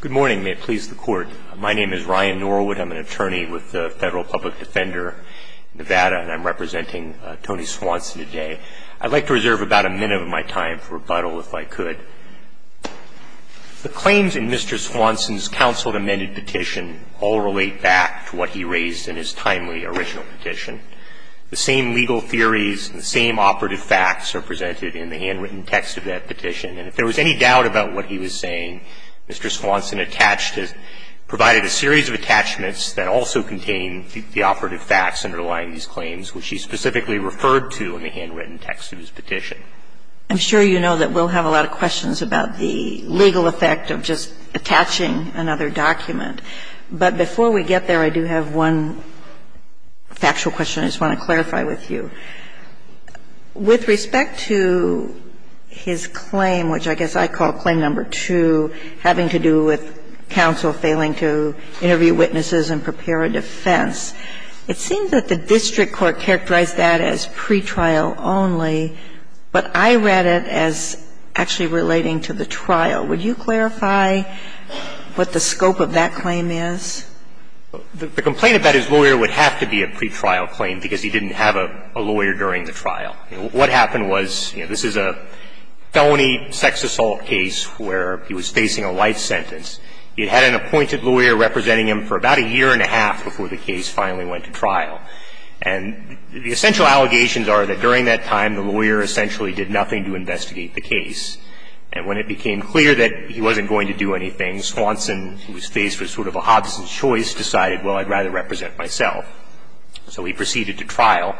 Good morning. May it please the Court. My name is Ryan Norwood. I'm an attorney with the Federal Public Defender in Nevada, and I'm representing Tony Swanson today. I'd like to reserve about a minute of my time for rebuttal, if I could. The claims in Mr. Swanson's counseled amended petition all relate back to what he raised in his timely original petition. The same legal theories and the same operative facts are presented in the handwritten text of that petition, and if there was any doubt about what he was saying, Mr. Swanson attached his – provided a series of attachments that also contain the operative facts underlying these claims, which he specifically referred to in the handwritten text of his petition. I'm sure you know that we'll have a lot of questions about the legal effect of just attaching another document. But before we get there, I do have one factual question I just want to clarify with you. With respect to his claim, which I guess I call claim number two, having to do with counsel failing to interview witnesses and prepare a defense, it seems that the district court characterized that as pretrial only, but I read it as actually relating to the trial. Would you clarify what the scope of that claim is? The complaint about his lawyer would have to be a pretrial claim because he didn't have a lawyer during the trial. What happened was, you know, this is a felony sex assault case where he was facing a life sentence. He had an appointed lawyer representing him for about a year and a half before the case finally went to trial. And the essential allegations are that during that time, the lawyer essentially did nothing to investigate the case. And when it became clear that he wasn't going to do anything, Swanson, who was faced with sort of a Hobson's choice, decided, well, I'd rather represent myself. So he proceeded to trial.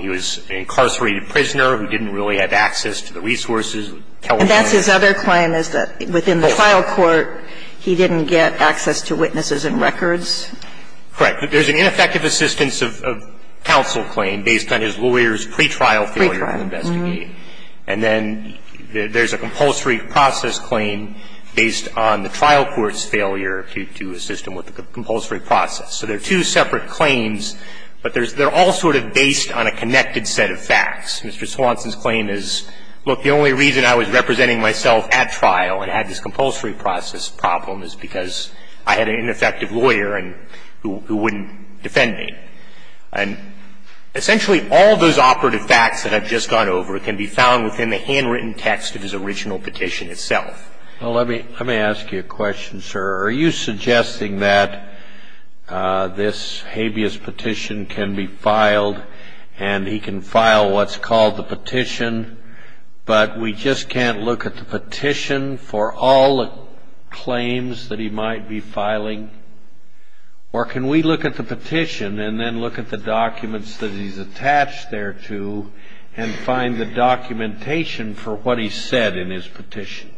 He was an incarcerated prisoner who didn't really have access to the resources. And that's his other claim is that within the trial court, he didn't get access to witnesses and records? Correct. There's an ineffective assistance of counsel claim based on his lawyer's pretrial failure to investigate. And then there's a compulsory process claim based on the trial court's failure to assist him with the compulsory process. So they're two separate claims, but they're all sort of based on a connected set of facts. Mr. Swanson's claim is, look, the only reason I was representing myself at trial and had this compulsory process problem is because I had an ineffective lawyer who wouldn't defend me. And essentially all those operative facts that I've just gone over can be found within the handwritten text of his original petition itself. Well, let me ask you a question, sir. Are you suggesting that this habeas petition can be filed and he can file what's called the petition, but we just can't look at the petition for all the claims that he might be filing? Or can we look at the petition and then look at the documents that he's attached thereto and find the documentation for what he said in his petition?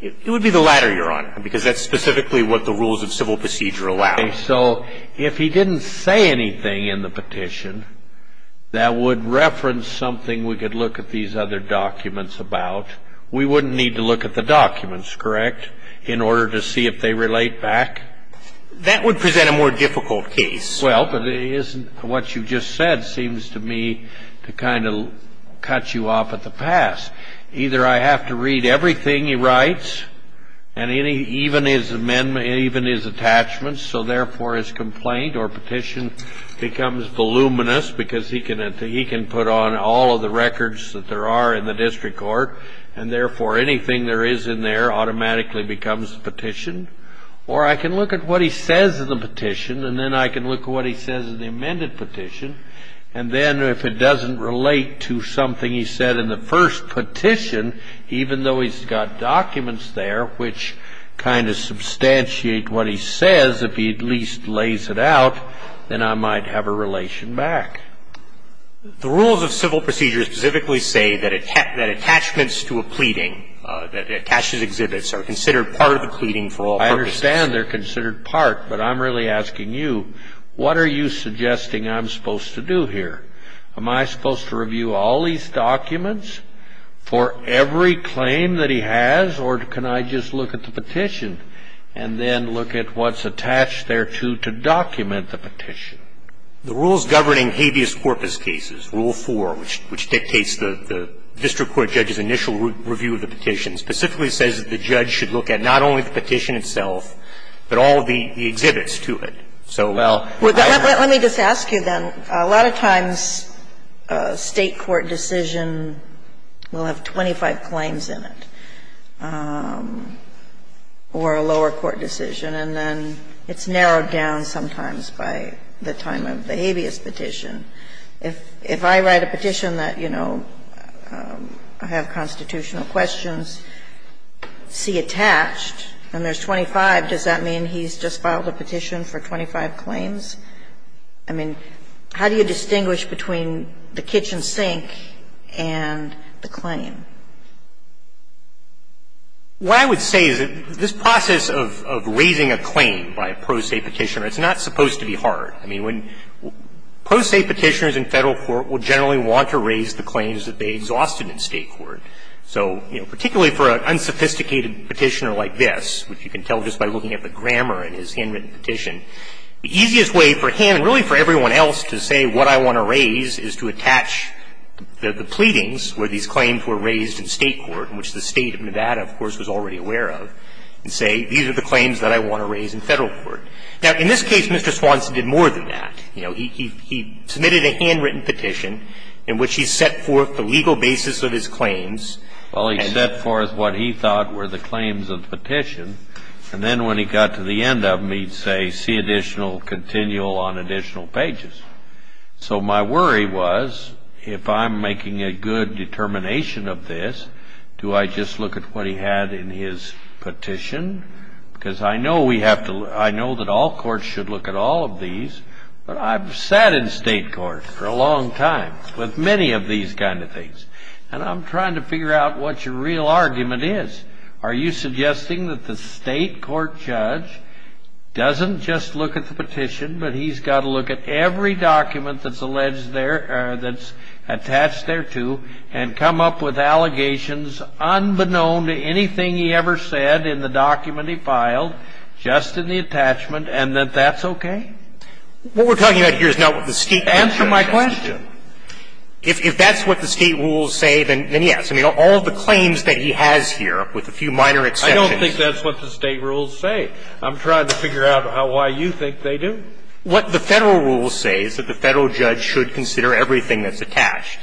It would be the latter, Your Honor, because that's specifically what the rules of civil procedure allow. Okay. So if he didn't say anything in the petition that would reference something we could look at these other documents about, we wouldn't need to look at the documents, correct, in order to see if they relate back? That would present a more difficult case. Well, but what you just said seems to me to kind of cut you off at the pass. Either I have to read everything he writes, even his attachments, so therefore his complaint or petition becomes voluminous because he can put on all of the records that there are in the district court, and therefore anything there is in there automatically becomes the petition. Or I can look at what he says in the petition, and then I can look at what he says in the amended petition, and then if it doesn't relate to something he said in the first petition, even though he's got documents there which kind of substantiate what he says, if he at least lays it out, then I might have a relation back. The rules of civil procedure specifically say that attachments to a pleading, that attaches exhibits are considered part of a pleading for all purposes. I understand they're considered part, but I'm really asking you, what are you suggesting I'm supposed to do here? Am I supposed to review all these documents for every claim that he has, or can I just look at the petition and then look at what's attached thereto to document the petition? The rules governing habeas corpus cases, Rule 4, which dictates the district court judge's initial review of the petition, specifically says that the judge should look at not only the petition itself, but all of the exhibits to it. So I'm not going to do that. Well, let me just ask you then, a lot of times a State court decision will have 25 claims in it, or a lower court decision, and then it's narrowed down sometimes by the time of the habeas petition. If I write a petition that, you know, I have constitutional questions, see attached and there's 25, does that mean he's just filed a petition for 25 claims? I mean, how do you distinguish between the kitchen sink and the claim? What I would say is that this process of raising a claim by a pro se petitioner, it's not supposed to be hard. I mean, when pro se petitioners in Federal court would generally want to raise the claims that they exhausted in State court, so, you know, particularly for an unsophisticated petitioner like this, which you can tell just by looking at the grammar in his handwritten petition, the easiest way for him and really for everyone else to say what I want to raise is to attach the pleadings where these claims were raised in State court, which the State of Nevada, of course, was already aware of, and say these are the claims that I want to raise in Federal court. Now, in this case, Mr. Swanson did more than that. You know, he submitted a handwritten petition in which he set forth the legal basis of his claims. Well, he set forth what he thought were the claims of the petition, and then when he got to the end of them, he'd say, see additional continual on additional pages. So my worry was, if I'm making a good determination of this, do I just look at what he had in his petition? Because I know we have to, I know that all courts should look at all of these, but I've sat in State court for a long time with many of these kind of things, and I'm trying to figure out what your real argument is. Are you suggesting that the State court judge doesn't just look at the petition, but he's got to look at every document that's alleged there, that's attached thereto, and come up with allegations unbeknown to anything he ever said in the document he filed, just in the attachment, and that that's okay? What we're talking about here is not what the State court judge said. Answer my question. If that's what the State rules say, then yes. I mean, all of the claims that he has here, with a few minor exceptions. I don't think that's what the State rules say. I'm trying to figure out why you think they do. What the Federal rules say is that the Federal judge should consider everything that's attached.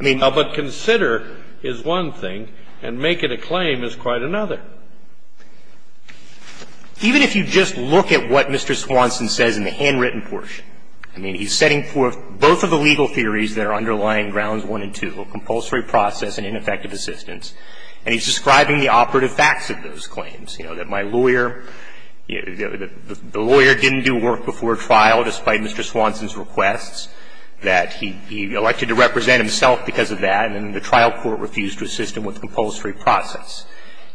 I mean, but consider is one thing, and make it a claim is quite another. Even if you just look at what Mr. Swanson says in the handwritten portion, I mean, he's setting forth both of the legal theories that are underlying grounds 1 and 2, compulsory process and ineffective assistance, and he's describing the operative facts of those claims. You know, that my lawyer, you know, the lawyer didn't do work before trial despite Mr. Swanson's requests, that he elected to represent himself because of that, and then the trial court refused to assist him with the compulsory process.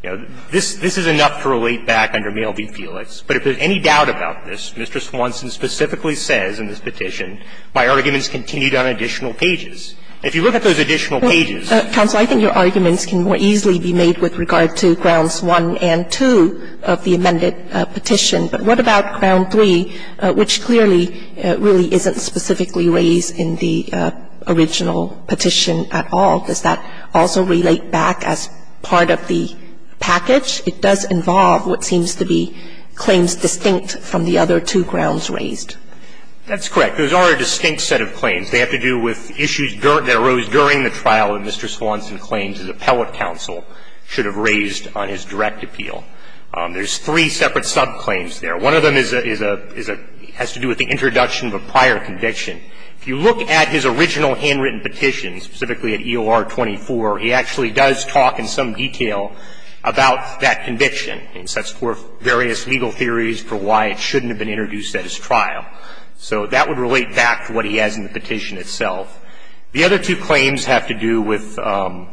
You know, this is enough to relate back under Male v. Felix. But if there's any doubt about this, Mr. Swanson specifically says in this petition my arguments continued on additional pages. If you look at those additional pages. Sotomayor, I think your arguments can more easily be made with regard to grounds 1 and 2 of the amended petition. But what about ground 3, which clearly really isn't specifically raised in the original petition at all? Does that also relate back as part of the package? It does involve what seems to be claims distinct from the other two grounds raised. That's correct. Those are a distinct set of claims. They have to do with issues that arose during the trial that Mr. Swanson claims his appellate counsel should have raised on his direct appeal. There's three separate subclaims there. One of them is a – has to do with the introduction of a prior conviction. If you look at his original handwritten petition, specifically at EOR 24, he actually does talk in some detail about that conviction. He sets forth various legal theories for why it shouldn't have been introduced at his trial. So that would relate back to what he has in the petition itself. The other two claims have to do with the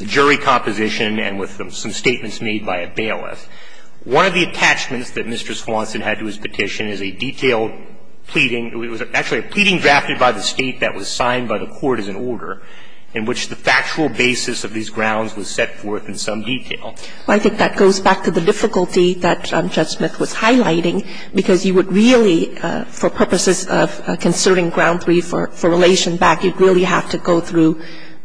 jury composition and with some statements made by a bailiff. One of the attachments that Mr. Swanson had to his petition is a detailed pleading – it was actually a pleading drafted by the State that was signed by the court as an order in which the factual basis of these grounds was set forth in some detail. Well, I think that goes back to the difficulty that Judge Smith was highlighting, because you would really, for purposes of considering ground three for relation back, you'd really have to go through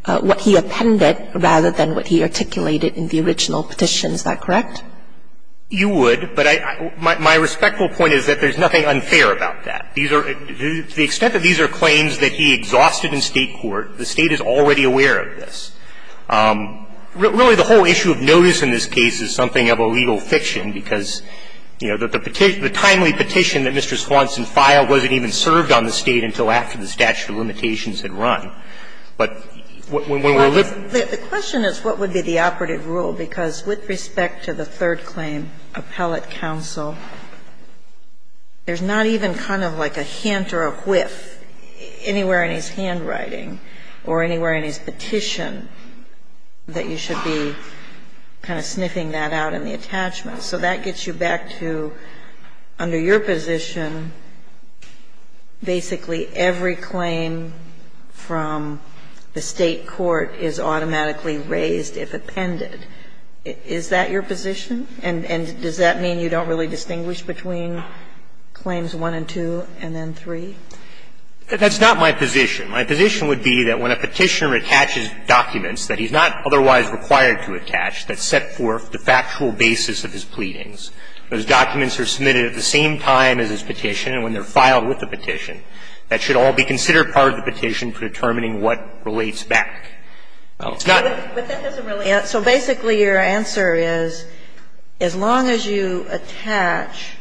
what he appended rather than what he articulated in the original petition. Is that correct? You would. But I – my respectful point is that there's nothing unfair about that. These are – to the extent that these are claims that he exhausted in State court, the State is already aware of this. Really, the whole issue of notice in this case is something of a legal fiction, because, you know, the timely petition that Mr. Swanson filed wasn't even served on the State until after the statute of limitations had run. But when we're looking at it – The question is what would be the operative rule, because with respect to the third claim, appellate counsel, there's not even kind of like a hint or a whiff anywhere in his handwriting or anywhere in his petition that you should be kind of sniffing that out in the attachment. So that gets you back to, under your position, basically every claim from the State court is automatically raised if appended. Is that your position? And does that mean you don't really distinguish between claims one and two and then three? That's not my position. My position would be that when a Petitioner attaches documents that he's not otherwise required to attach that set forth the factual basis of his pleadings, those documents are submitted at the same time as his petition and when they're filed with the petition, that should all be considered part of the petition for determining what relates back. It's not – But that doesn't really – so basically your answer is, as long as you attach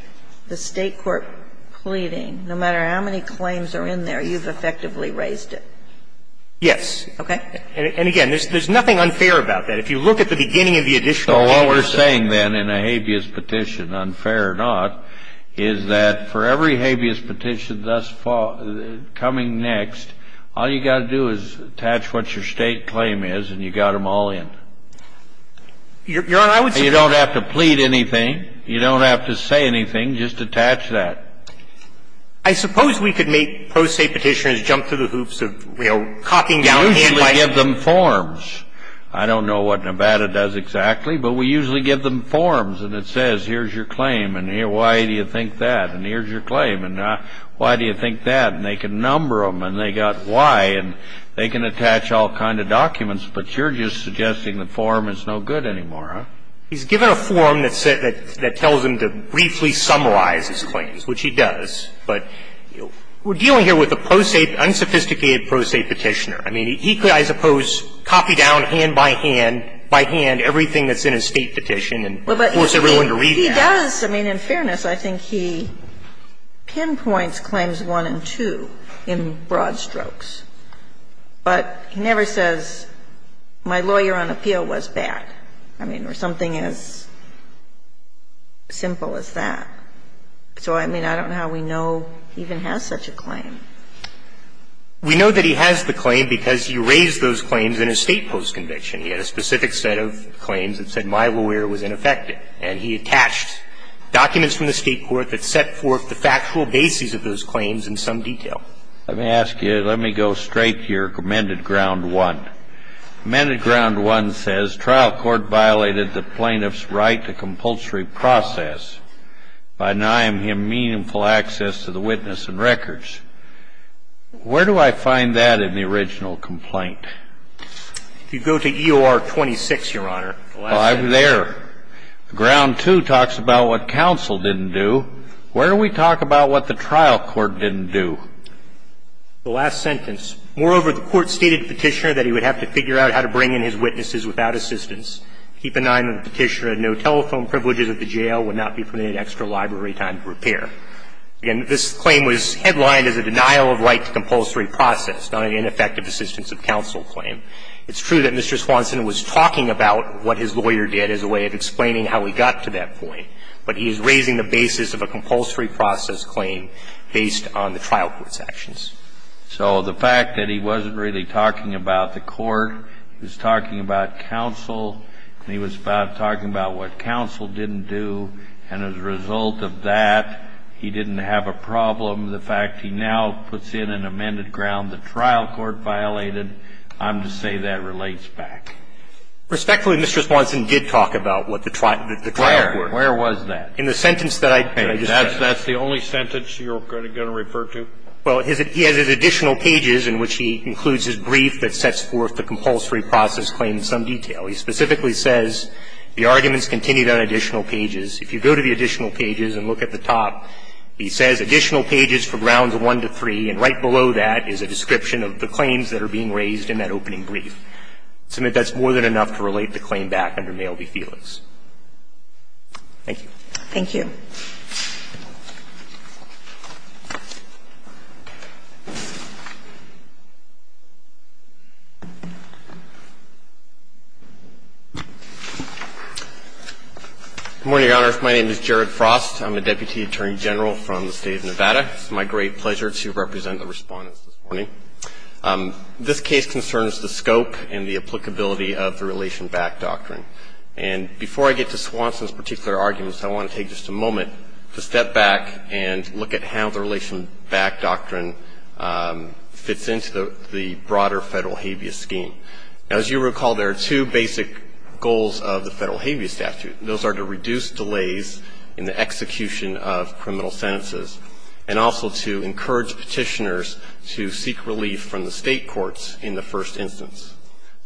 the State court pleading, no matter how many claims are in there, you've effectively raised it? Yes. Okay. And again, there's nothing unfair about that. If you look at the beginning of the additional habeas petition. So what we're saying then in a habeas petition, unfair or not, is that for every habeas petition thus far, coming next, all you've got to do is attach what your State claim is and you've got them all in. Your Honor, I would suggest – You don't have to plead anything. You don't have to say anything. Just attach that. I suppose we could make pro se petitioners jump through the hoops of, you know, copping down hand by hand. We usually give them forms. I don't know what Nevada does exactly, but we usually give them forms and it says, here's your claim and here, why do you think that? And here's your claim and why do you think that? And they can number them and they got why and they can attach all kind of documents. But you're just suggesting the form is no good anymore, huh? He's given a form that tells him to briefly summarize his claims, which he does. But we're dealing here with a pro se, unsophisticated pro se petitioner. I mean, he could, I suppose, copy down hand by hand, by hand, everything that's in a State petition and force everyone to read that. Well, but he does. I mean, in fairness, I think he pinpoints claims 1 and 2 in broad strokes. But he never says, my lawyer on appeal was bad. I mean, or something as simple as that. So, I mean, I don't know how we know he even has such a claim. We know that he has the claim because he raised those claims in a State post-conviction. He had a specific set of claims that said, my lawyer was ineffective. And he attached documents from the State court that set forth the factual basis of those claims in some detail. Let me ask you, let me go straight to your amended Ground 1. Amended Ground 1 says, trial court violated the plaintiff's right to compulsory process by denying him meaningful access to the witness and records. Where do I find that in the original complaint? If you go to EOR 26, Your Honor. Oh, I'm there. Ground 2 talks about what counsel didn't do. Where do we talk about what the trial court didn't do? The last sentence. Moreover, the court stated to the Petitioner that he would have to figure out how to bring in his witnesses without assistance, keep in mind that the Petitioner had no telephone privileges at the jail, would not be permitted extra library time to repair. Again, this claim was headlined as a denial of right to compulsory process, not an ineffective assistance of counsel claim. It's true that Mr. Swanson was talking about what his lawyer did as a way of explaining how he got to that point, but he is raising the basis of a compulsory process claim based on the trial court's actions. So the fact that he wasn't really talking about the court, he was talking about counsel, and he was talking about what counsel didn't do, and as a result of that, he didn't have a problem. The fact he now puts in an amended ground the trial court violated, I'm to say that relates back. Respectfully, Mr. Swanson did talk about what the trial court did. Where? Where was that? In the sentence that I just said. That's the only sentence you're going to refer to? Well, he has his additional pages in which he includes his brief that sets forth the compulsory process claim in some detail. He specifically says the arguments continued on additional pages. If you go to the additional pages and look at the top, he says additional pages from rounds one to three, and right below that is a description of the claims that are being raised in that opening brief. I submit that's more than enough to relate the claim back under Mail v. Felix. Thank you. Thank you. Good morning, Your Honors. My name is Jared Frost. I'm a deputy attorney general from the State of Nevada. It's my great pleasure to represent the Respondents this morning. This case concerns the scope and the applicability of the relation back doctrine. And before I get to Swanson's particular arguments, I want to take just a moment to step back and look at how the relation back doctrine fits into the broader Federal habeas scheme. Now, as you recall, there are two basic goals of the Federal habeas statute. Those are to reduce delays in the execution of criminal sentences and also to encourage Petitioners to seek relief from the State courts in the first instance.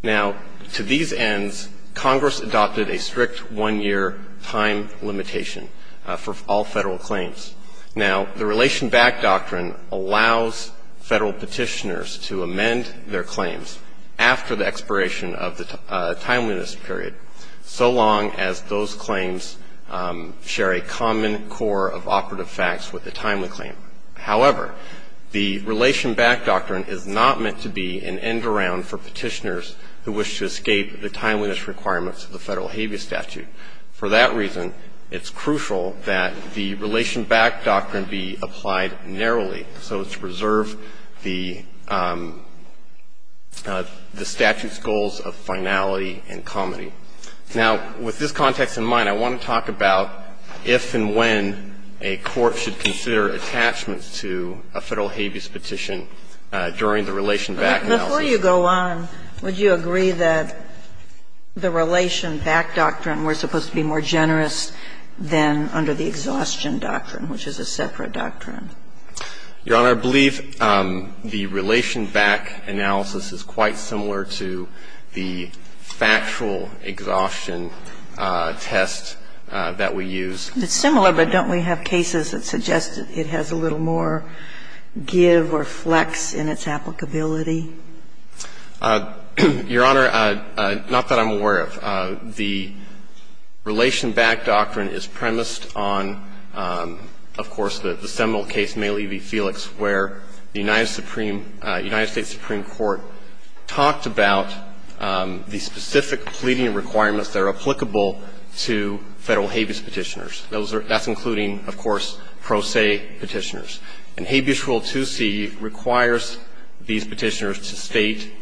Now, to these ends, Congress adopted a strict one-year time limitation for all Federal claims. Now, the relation back doctrine allows Federal Petitioners to amend their claims after the expiration of the timeliness period, so long as those claims share a common core of operative facts with the timely claim. However, the relation back doctrine is not meant to be an end-around for Petitioners who wish to escape the timeliness requirements of the Federal habeas statute. For that reason, it's crucial that the relation back doctrine be applied narrowly so as to preserve the statute's goals of finality and comity. Now, with this context in mind, I want to talk about if and when a court should consider attachments to a Federal habeas petition during the relation back analysis. Before you go on, would you agree that the relation back doctrine, we're supposed to be more generous than under the exhaustion doctrine, which is a separate doctrine? Your Honor, I believe the relation back analysis is quite similar to the factual exhaustion test that we use. It's similar, but don't we have cases that suggest it has a little more give or flex in its applicability? Your Honor, not that I'm aware of. The relation back doctrine is premised on, of course, the seminal case, Maile v. Felix, where the United Supreme – United States Supreme Court talked about the specific pleading requirements that are applicable to Federal habeas petitioners. That's including, of course, pro se petitioners. And Habeas Rule 2C requires these petitioners to state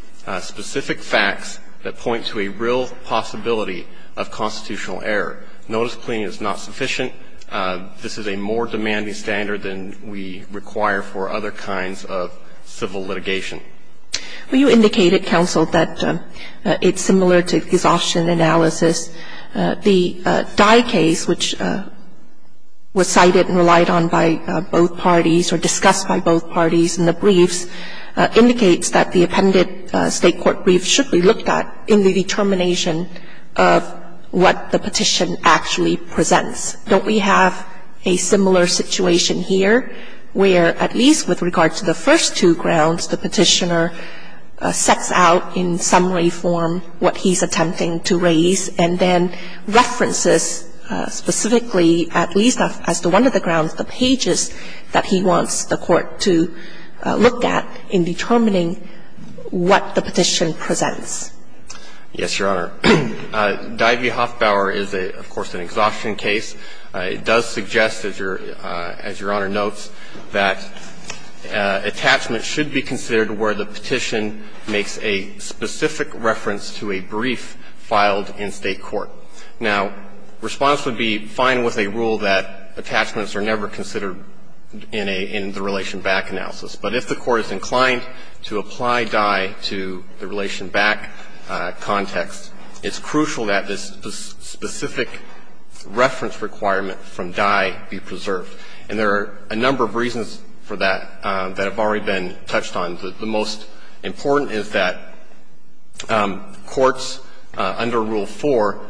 specific facts that point to a real possibility of constitutional error. Notice pleading is not sufficient. This is a more demanding standard than we require for other kinds of civil litigation. Well, you indicated, counsel, that it's similar to exhaustion analysis. The Dye case, which was cited and relied on by both parties or discussed by both parties in the briefs, indicates that the appended State court brief should be looked at in the determination of what the petition actually presents. Don't we have a similar situation here, where at least with regard to the first two grounds, the petitioner sets out in summary form what he's attempting to raise, and then references specifically, at least as to one of the grounds, the pages that he wants the court to look at in determining what the petition presents? Yes, Your Honor. Dye v. Hofbauer is, of course, an exhaustion case. It does suggest, as Your Honor notes, that attachments should be considered where the petition makes a specific reference to a brief filed in State court. Now, response would be fine with a rule that attachments are never considered in a relation back analysis. But if the court is inclined to apply Dye to the relation back context, it's crucial that this specific reference requirement from Dye be preserved. And there are a number of reasons for that that have already been touched on. The most important is that courts under Rule 4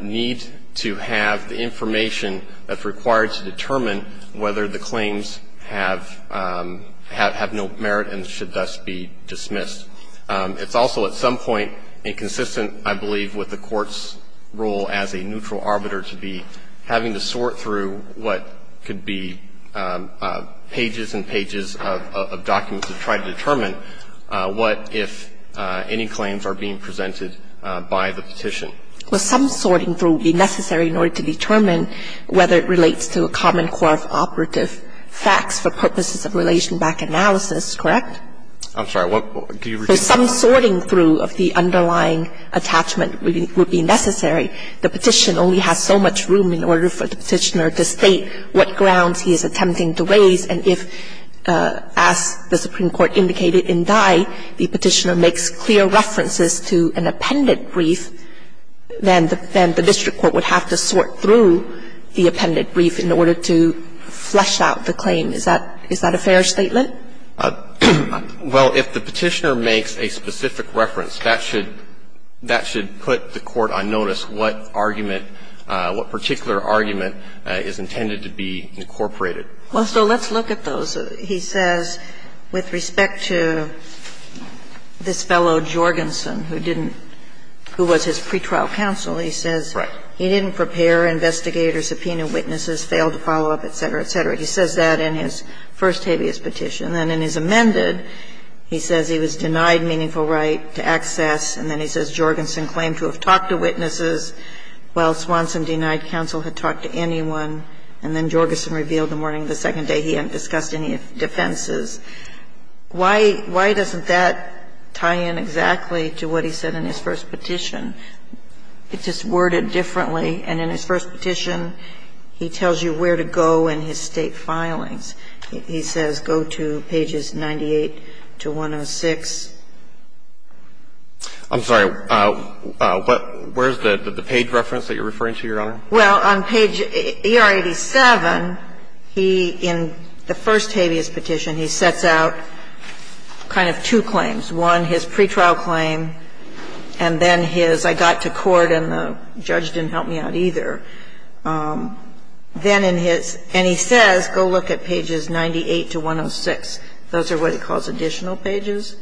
need to have the information that's required to determine whether the claims have no merit and should thus be dismissed. It's also at some point inconsistent, I believe, with the court's role as a neutral arbiter to be having to sort through what could be pages and pages of documents to try to determine what if any claims are being presented by the petition. Well, some sorting through would be necessary in order to determine whether it relates to a common core of operative facts for purposes of relation back analysis, correct? I'm sorry. Do you repeat? Some sorting through of the underlying attachment would be necessary. The petition only has so much room in order for the petitioner to state what grounds he is attempting to raise. And if, as the Supreme Court indicated in Dye, the petitioner makes clear references to an appended brief, then the district court would have to sort through the appended brief in order to flesh out the claim. Is that a fair statement? Well, if the petitioner makes a specific reference, that should put the court on notice what argument, what particular argument is intended to be incorporated. Well, so let's look at those. He says, with respect to this fellow Jorgensen, who didn't – who was his pretrial counsel, he says he didn't prepare investigators, subpoena witnesses, failed to follow up, et cetera, et cetera. He says that in his first habeas petition. And then in his amended, he says he was denied meaningful right to access. And then he says Jorgensen claimed to have talked to witnesses while Swanson denied counsel had talked to anyone. And then Jorgensen revealed the morning of the second day he hadn't discussed any of the defenses. Why doesn't that tie in exactly to what he said in his first petition? It's just worded differently. And in his first petition, he tells you where to go in his State filings. He says go to pages 98 to 106. I'm sorry. What – where's the page reference that you're referring to, Your Honor? Well, on page ER87, he, in the first habeas petition, he sets out kind of two claims. One, his pretrial claim, and then his I got to court and the judge didn't help me out either. Then in his – and he says go look at pages 98 to 106. Those are what he calls additional pages.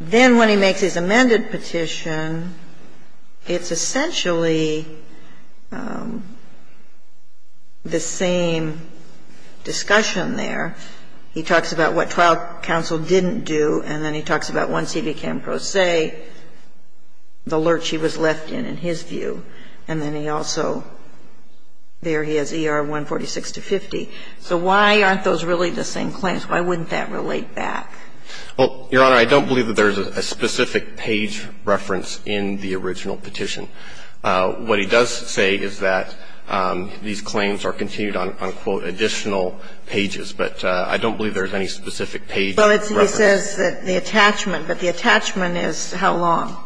Then when he makes his amended petition, it's essentially the same discussion there. He talks about what trial counsel didn't do, and then he talks about once he became pro se, the lurch he was left in, in his view. And then he also – there he has ER146-50. So why aren't those really the same claims? Why wouldn't that relate back? Well, Your Honor, I don't believe that there's a specific page reference in the original petition. What he does say is that these claims are continued on, unquote, additional pages. But I don't believe there's any specific page reference. Well, he says that the attachment, but the attachment is how long?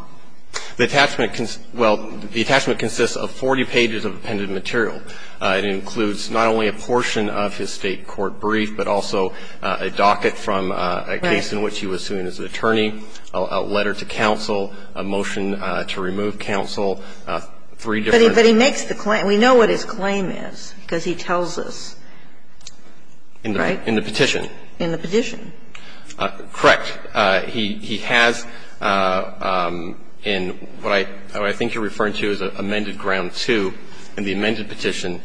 The attachment – well, the attachment consists of 40 pages of appended material. It includes not only a portion of his State court brief, but also a docket from a case in which he was suing his attorney, a letter to counsel, a motion to remove counsel, three different – But he makes the claim. We know what his claim is because he tells us. In the petition. In the petition. Correct. He has in what I think you're referring to as amended ground two in the amended petition,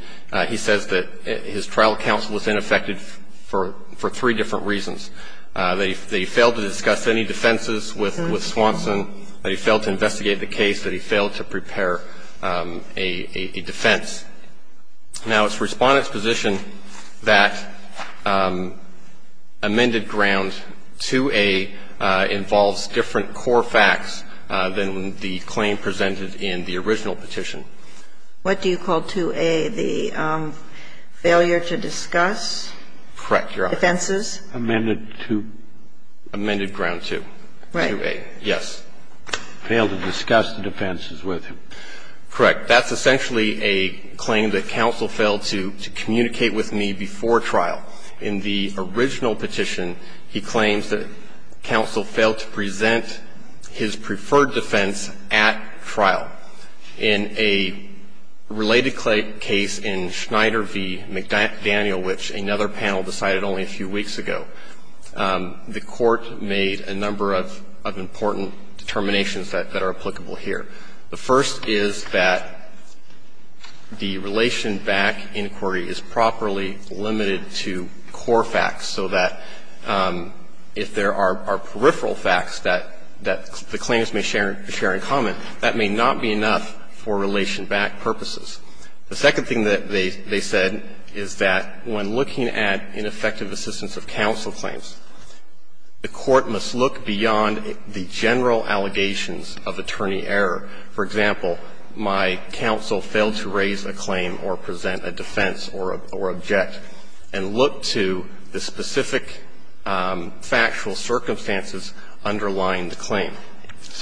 he says that his trial counsel was ineffective for three different reasons, that he failed to discuss any defenses with Swanson, that he failed to investigate the case, that he failed to prepare a defense. Now, it's Respondent's position that amended ground 2A involves different core facts than the claim presented in the original petition. What do you call 2A, the failure to discuss? Correct, Your Honor. Defenses? Amended to? Amended ground 2. Right. 2A, yes. Failed to discuss the defenses with him. Correct. That's essentially a claim that counsel failed to communicate with me before trial. In the original petition, he claims that counsel failed to present his preferred defense at trial. In a related case in Schneider v. McDaniel, which another panel decided only a few weeks ago, the Court made a number of important determinations that are applicable here. The first is that the relation-back inquiry is properly limited to core facts, so that if there are peripheral facts that the claims may share in common, that may not be enough for relation-back purposes. The second thing that they said is that when looking at ineffective assistance of counsel claims, the Court must look beyond the general allegations of attorney error. For example, my counsel failed to raise a claim or present a defense or object and look to the specific factual circumstances underlying the claim.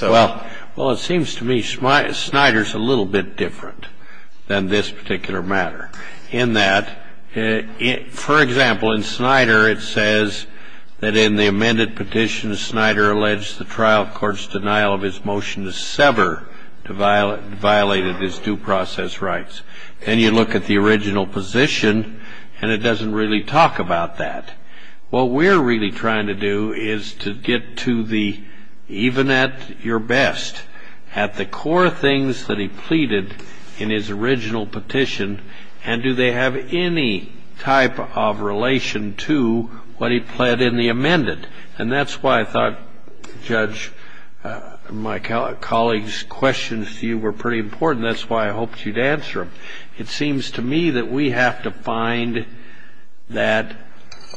Well, it seems to me Schneider's a little bit different than this particular matter in that, for example, in Schneider it says that in the amended petition, Schneider alleged the trial court's denial of his motion to sever violated his due process rights. Then you look at the original position, and it doesn't really talk about that. What we're really trying to do is to get to the, even at your best, at the core things that he pleaded in his original petition, and do they have any type of relation to what he pled in the amended. And that's why I thought, Judge, my colleague's questions to you were pretty important. That's why I hoped you'd answer them. It seems to me that we have to find that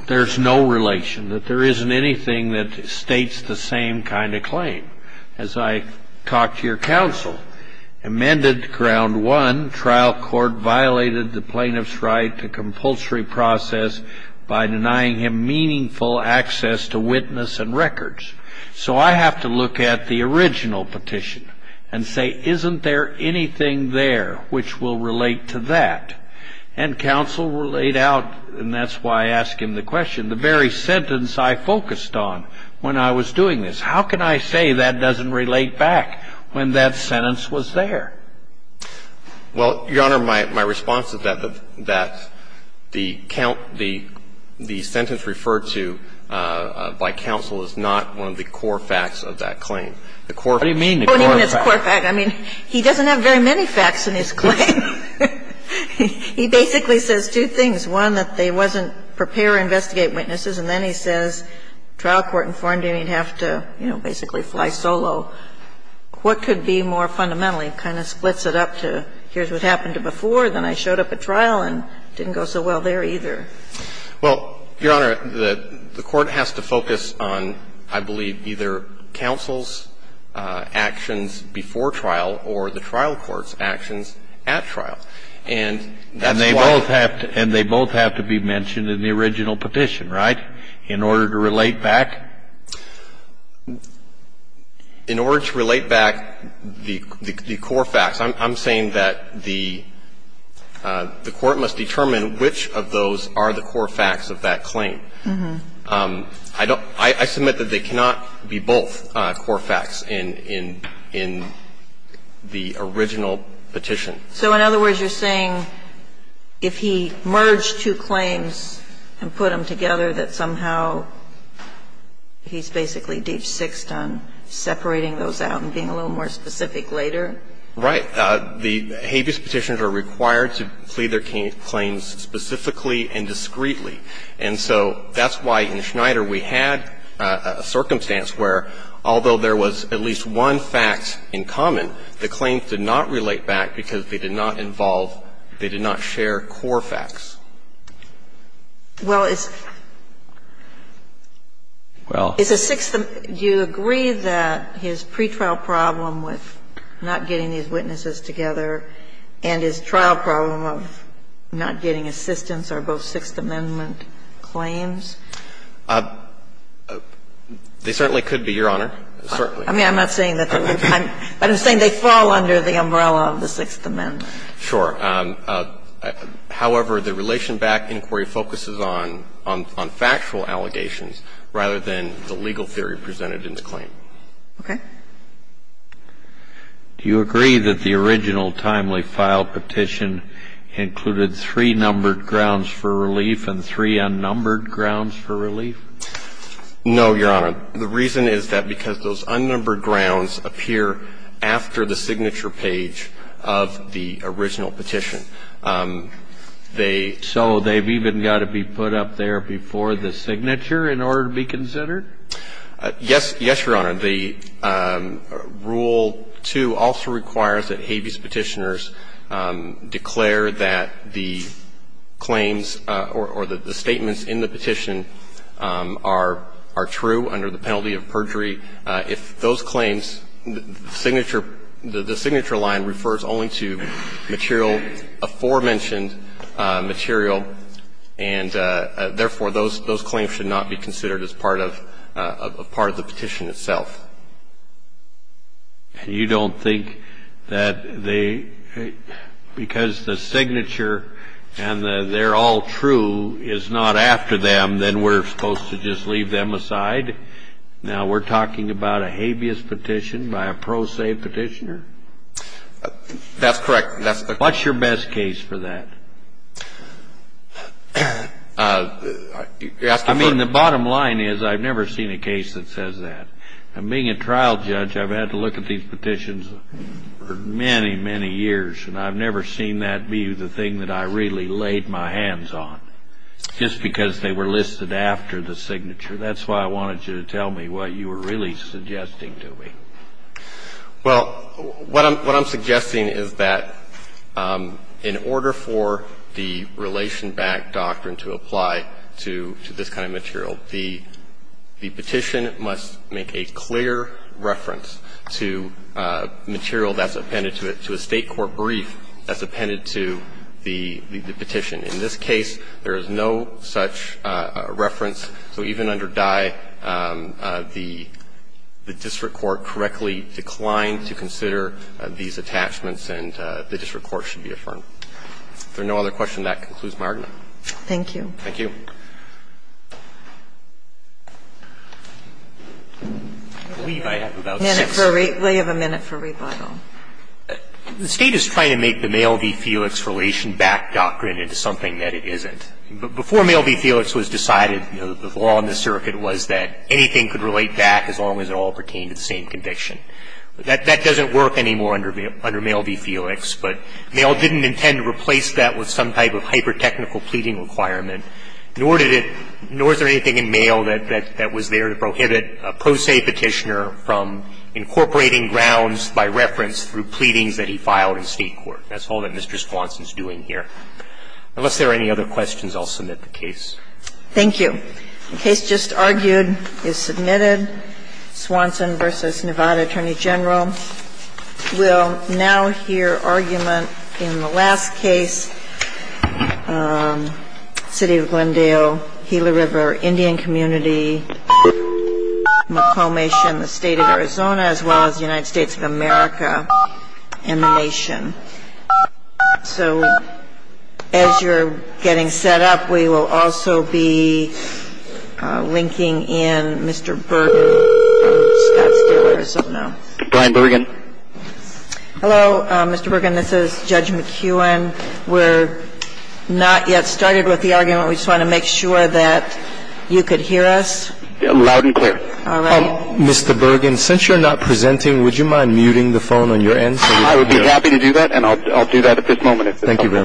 there's no relation, that there isn't anything that states the same kind of claim. As I talked to your counsel, amended ground one, trial court violated the plaintiff's right to compulsory process by denying him meaningful access to witness and records. So I have to look at the original petition and say, isn't there anything there which will relate to that? And counsel laid out, and that's why I ask him the question, the very sentence I focused on when I was doing this. How can I say that doesn't relate back when that sentence was there? Well, Your Honor, my response is that the count, the sentence referred to by counsel is not one of the core facts of that claim. The core facts. What do you mean the core facts? I mean, he doesn't have very many facts in his claim. He basically says two things. One, that they wasn't prepared to investigate witnesses, and then he says trial court informed him he'd have to, you know, basically fly solo. What could be more fundamental? He kind of splits it up to here's what happened to before, then I showed up at trial and it didn't go so well there either. Well, Your Honor, the court has to focus on, I believe, either counsel's actions before trial or the trial court's actions at trial. And that's why. And they both have to be mentioned in the original petition, right, in order to relate In order to relate back the core facts, I'm saying that the court must determine which of those are the core facts of that claim. I don't – I submit that they cannot be both core facts in the original petition. So in other words, you're saying if he merged two claims and put them together that somehow he's basically deep-sixed on separating those out and being a little more specific later? Right. The habeas petitions are required to plead their claims specifically and discreetly. And so that's why in Schneider we had a circumstance where, although there was at least one fact in common, the claims did not relate back because they did not involve – they did not share core facts. Well, it's a Sixth – do you agree that his pretrial problem with not getting these witnesses together and his trial problem of not getting assistance are both Sixth Amendment claims? They certainly could be, Your Honor. Certainly. I mean, I'm not saying that they're – I'm saying they fall under the umbrella of the Sixth Amendment. Sure. However, the relation back inquiry focuses on factual allegations rather than the legal theory presented in the claim. Okay. Do you agree that the original timely file petition included three numbered grounds for relief and three unnumbered grounds for relief? No, Your Honor. The reason is that because those unnumbered grounds appear after the signature page of the original petition. They – So they've even got to be put up there before the signature in order to be considered? Yes. Yes, Your Honor. The Rule 2 also requires that habeas petitioners declare that the claims or the statements in the petition are true under the penalty of perjury. If those claims – the signature – the signature line refers only to material – aforementioned material, and therefore, those claims should not be considered as part of the petition itself. And you don't think that they – because the signature and the they're all true is not after them, then we're supposed to just leave them aside? Now, we're talking about a habeas petition by a pro se petitioner. That's correct. That's the – What's your best case for that? I mean, the bottom line is I've never seen a case that says that. And being a trial judge, I've had to look at these petitions for many, many years, and I've never seen that be the thing that I really laid my hands on just because they were listed after the signature. That's why I wanted you to tell me what you were really suggesting to me. Well, what I'm suggesting is that in order for the relation-backed doctrine to apply to this kind of material, the petition must make a clear reference to material that's appended to it, to a State court brief that's appended to the petition. In this case, there is no such reference. So even under Dye, the district court correctly declined to consider these attachments and the district court should be affirmed. If there are no other questions, that concludes my argument. Thank you. Thank you. I believe I have about six. We have a minute for rebuttal. The State is trying to make the male v. Felix relation-backed doctrine into something that it isn't. Before male v. Felix was decided, the law in the circuit was that anything could relate back as long as it all pertained to the same conviction. That doesn't work anymore under male v. Felix, but male didn't intend to replace that with some type of hyper-technical pleading requirement, nor did it, nor is there anything in male that was there to prohibit a pro se petitioner from incorporating grounds by reference through pleadings that he filed in State court. That's all that Mr. Swanson is doing here. Unless there are any other questions, I'll submit the case. Thank you. The case just argued is submitted. Swanson v. Nevada Attorney General will now hear argument in the last case, City of Glendale, Gila River Indian Community, McComish and the State of Arizona, as well as the United States of America and the nation. So as you're getting set up, we will also be linking in Mr. Bergen. Brian Bergen. Hello, Mr. Bergen. This is Judge McKeown. We're not yet started with the argument. We just want to make sure that you could hear us. Loud and clear. Mr. Bergen, since you're not presenting, would you mind muting the phone on your end? I would be happy to do that, and I'll do that at this moment. Thank you very much.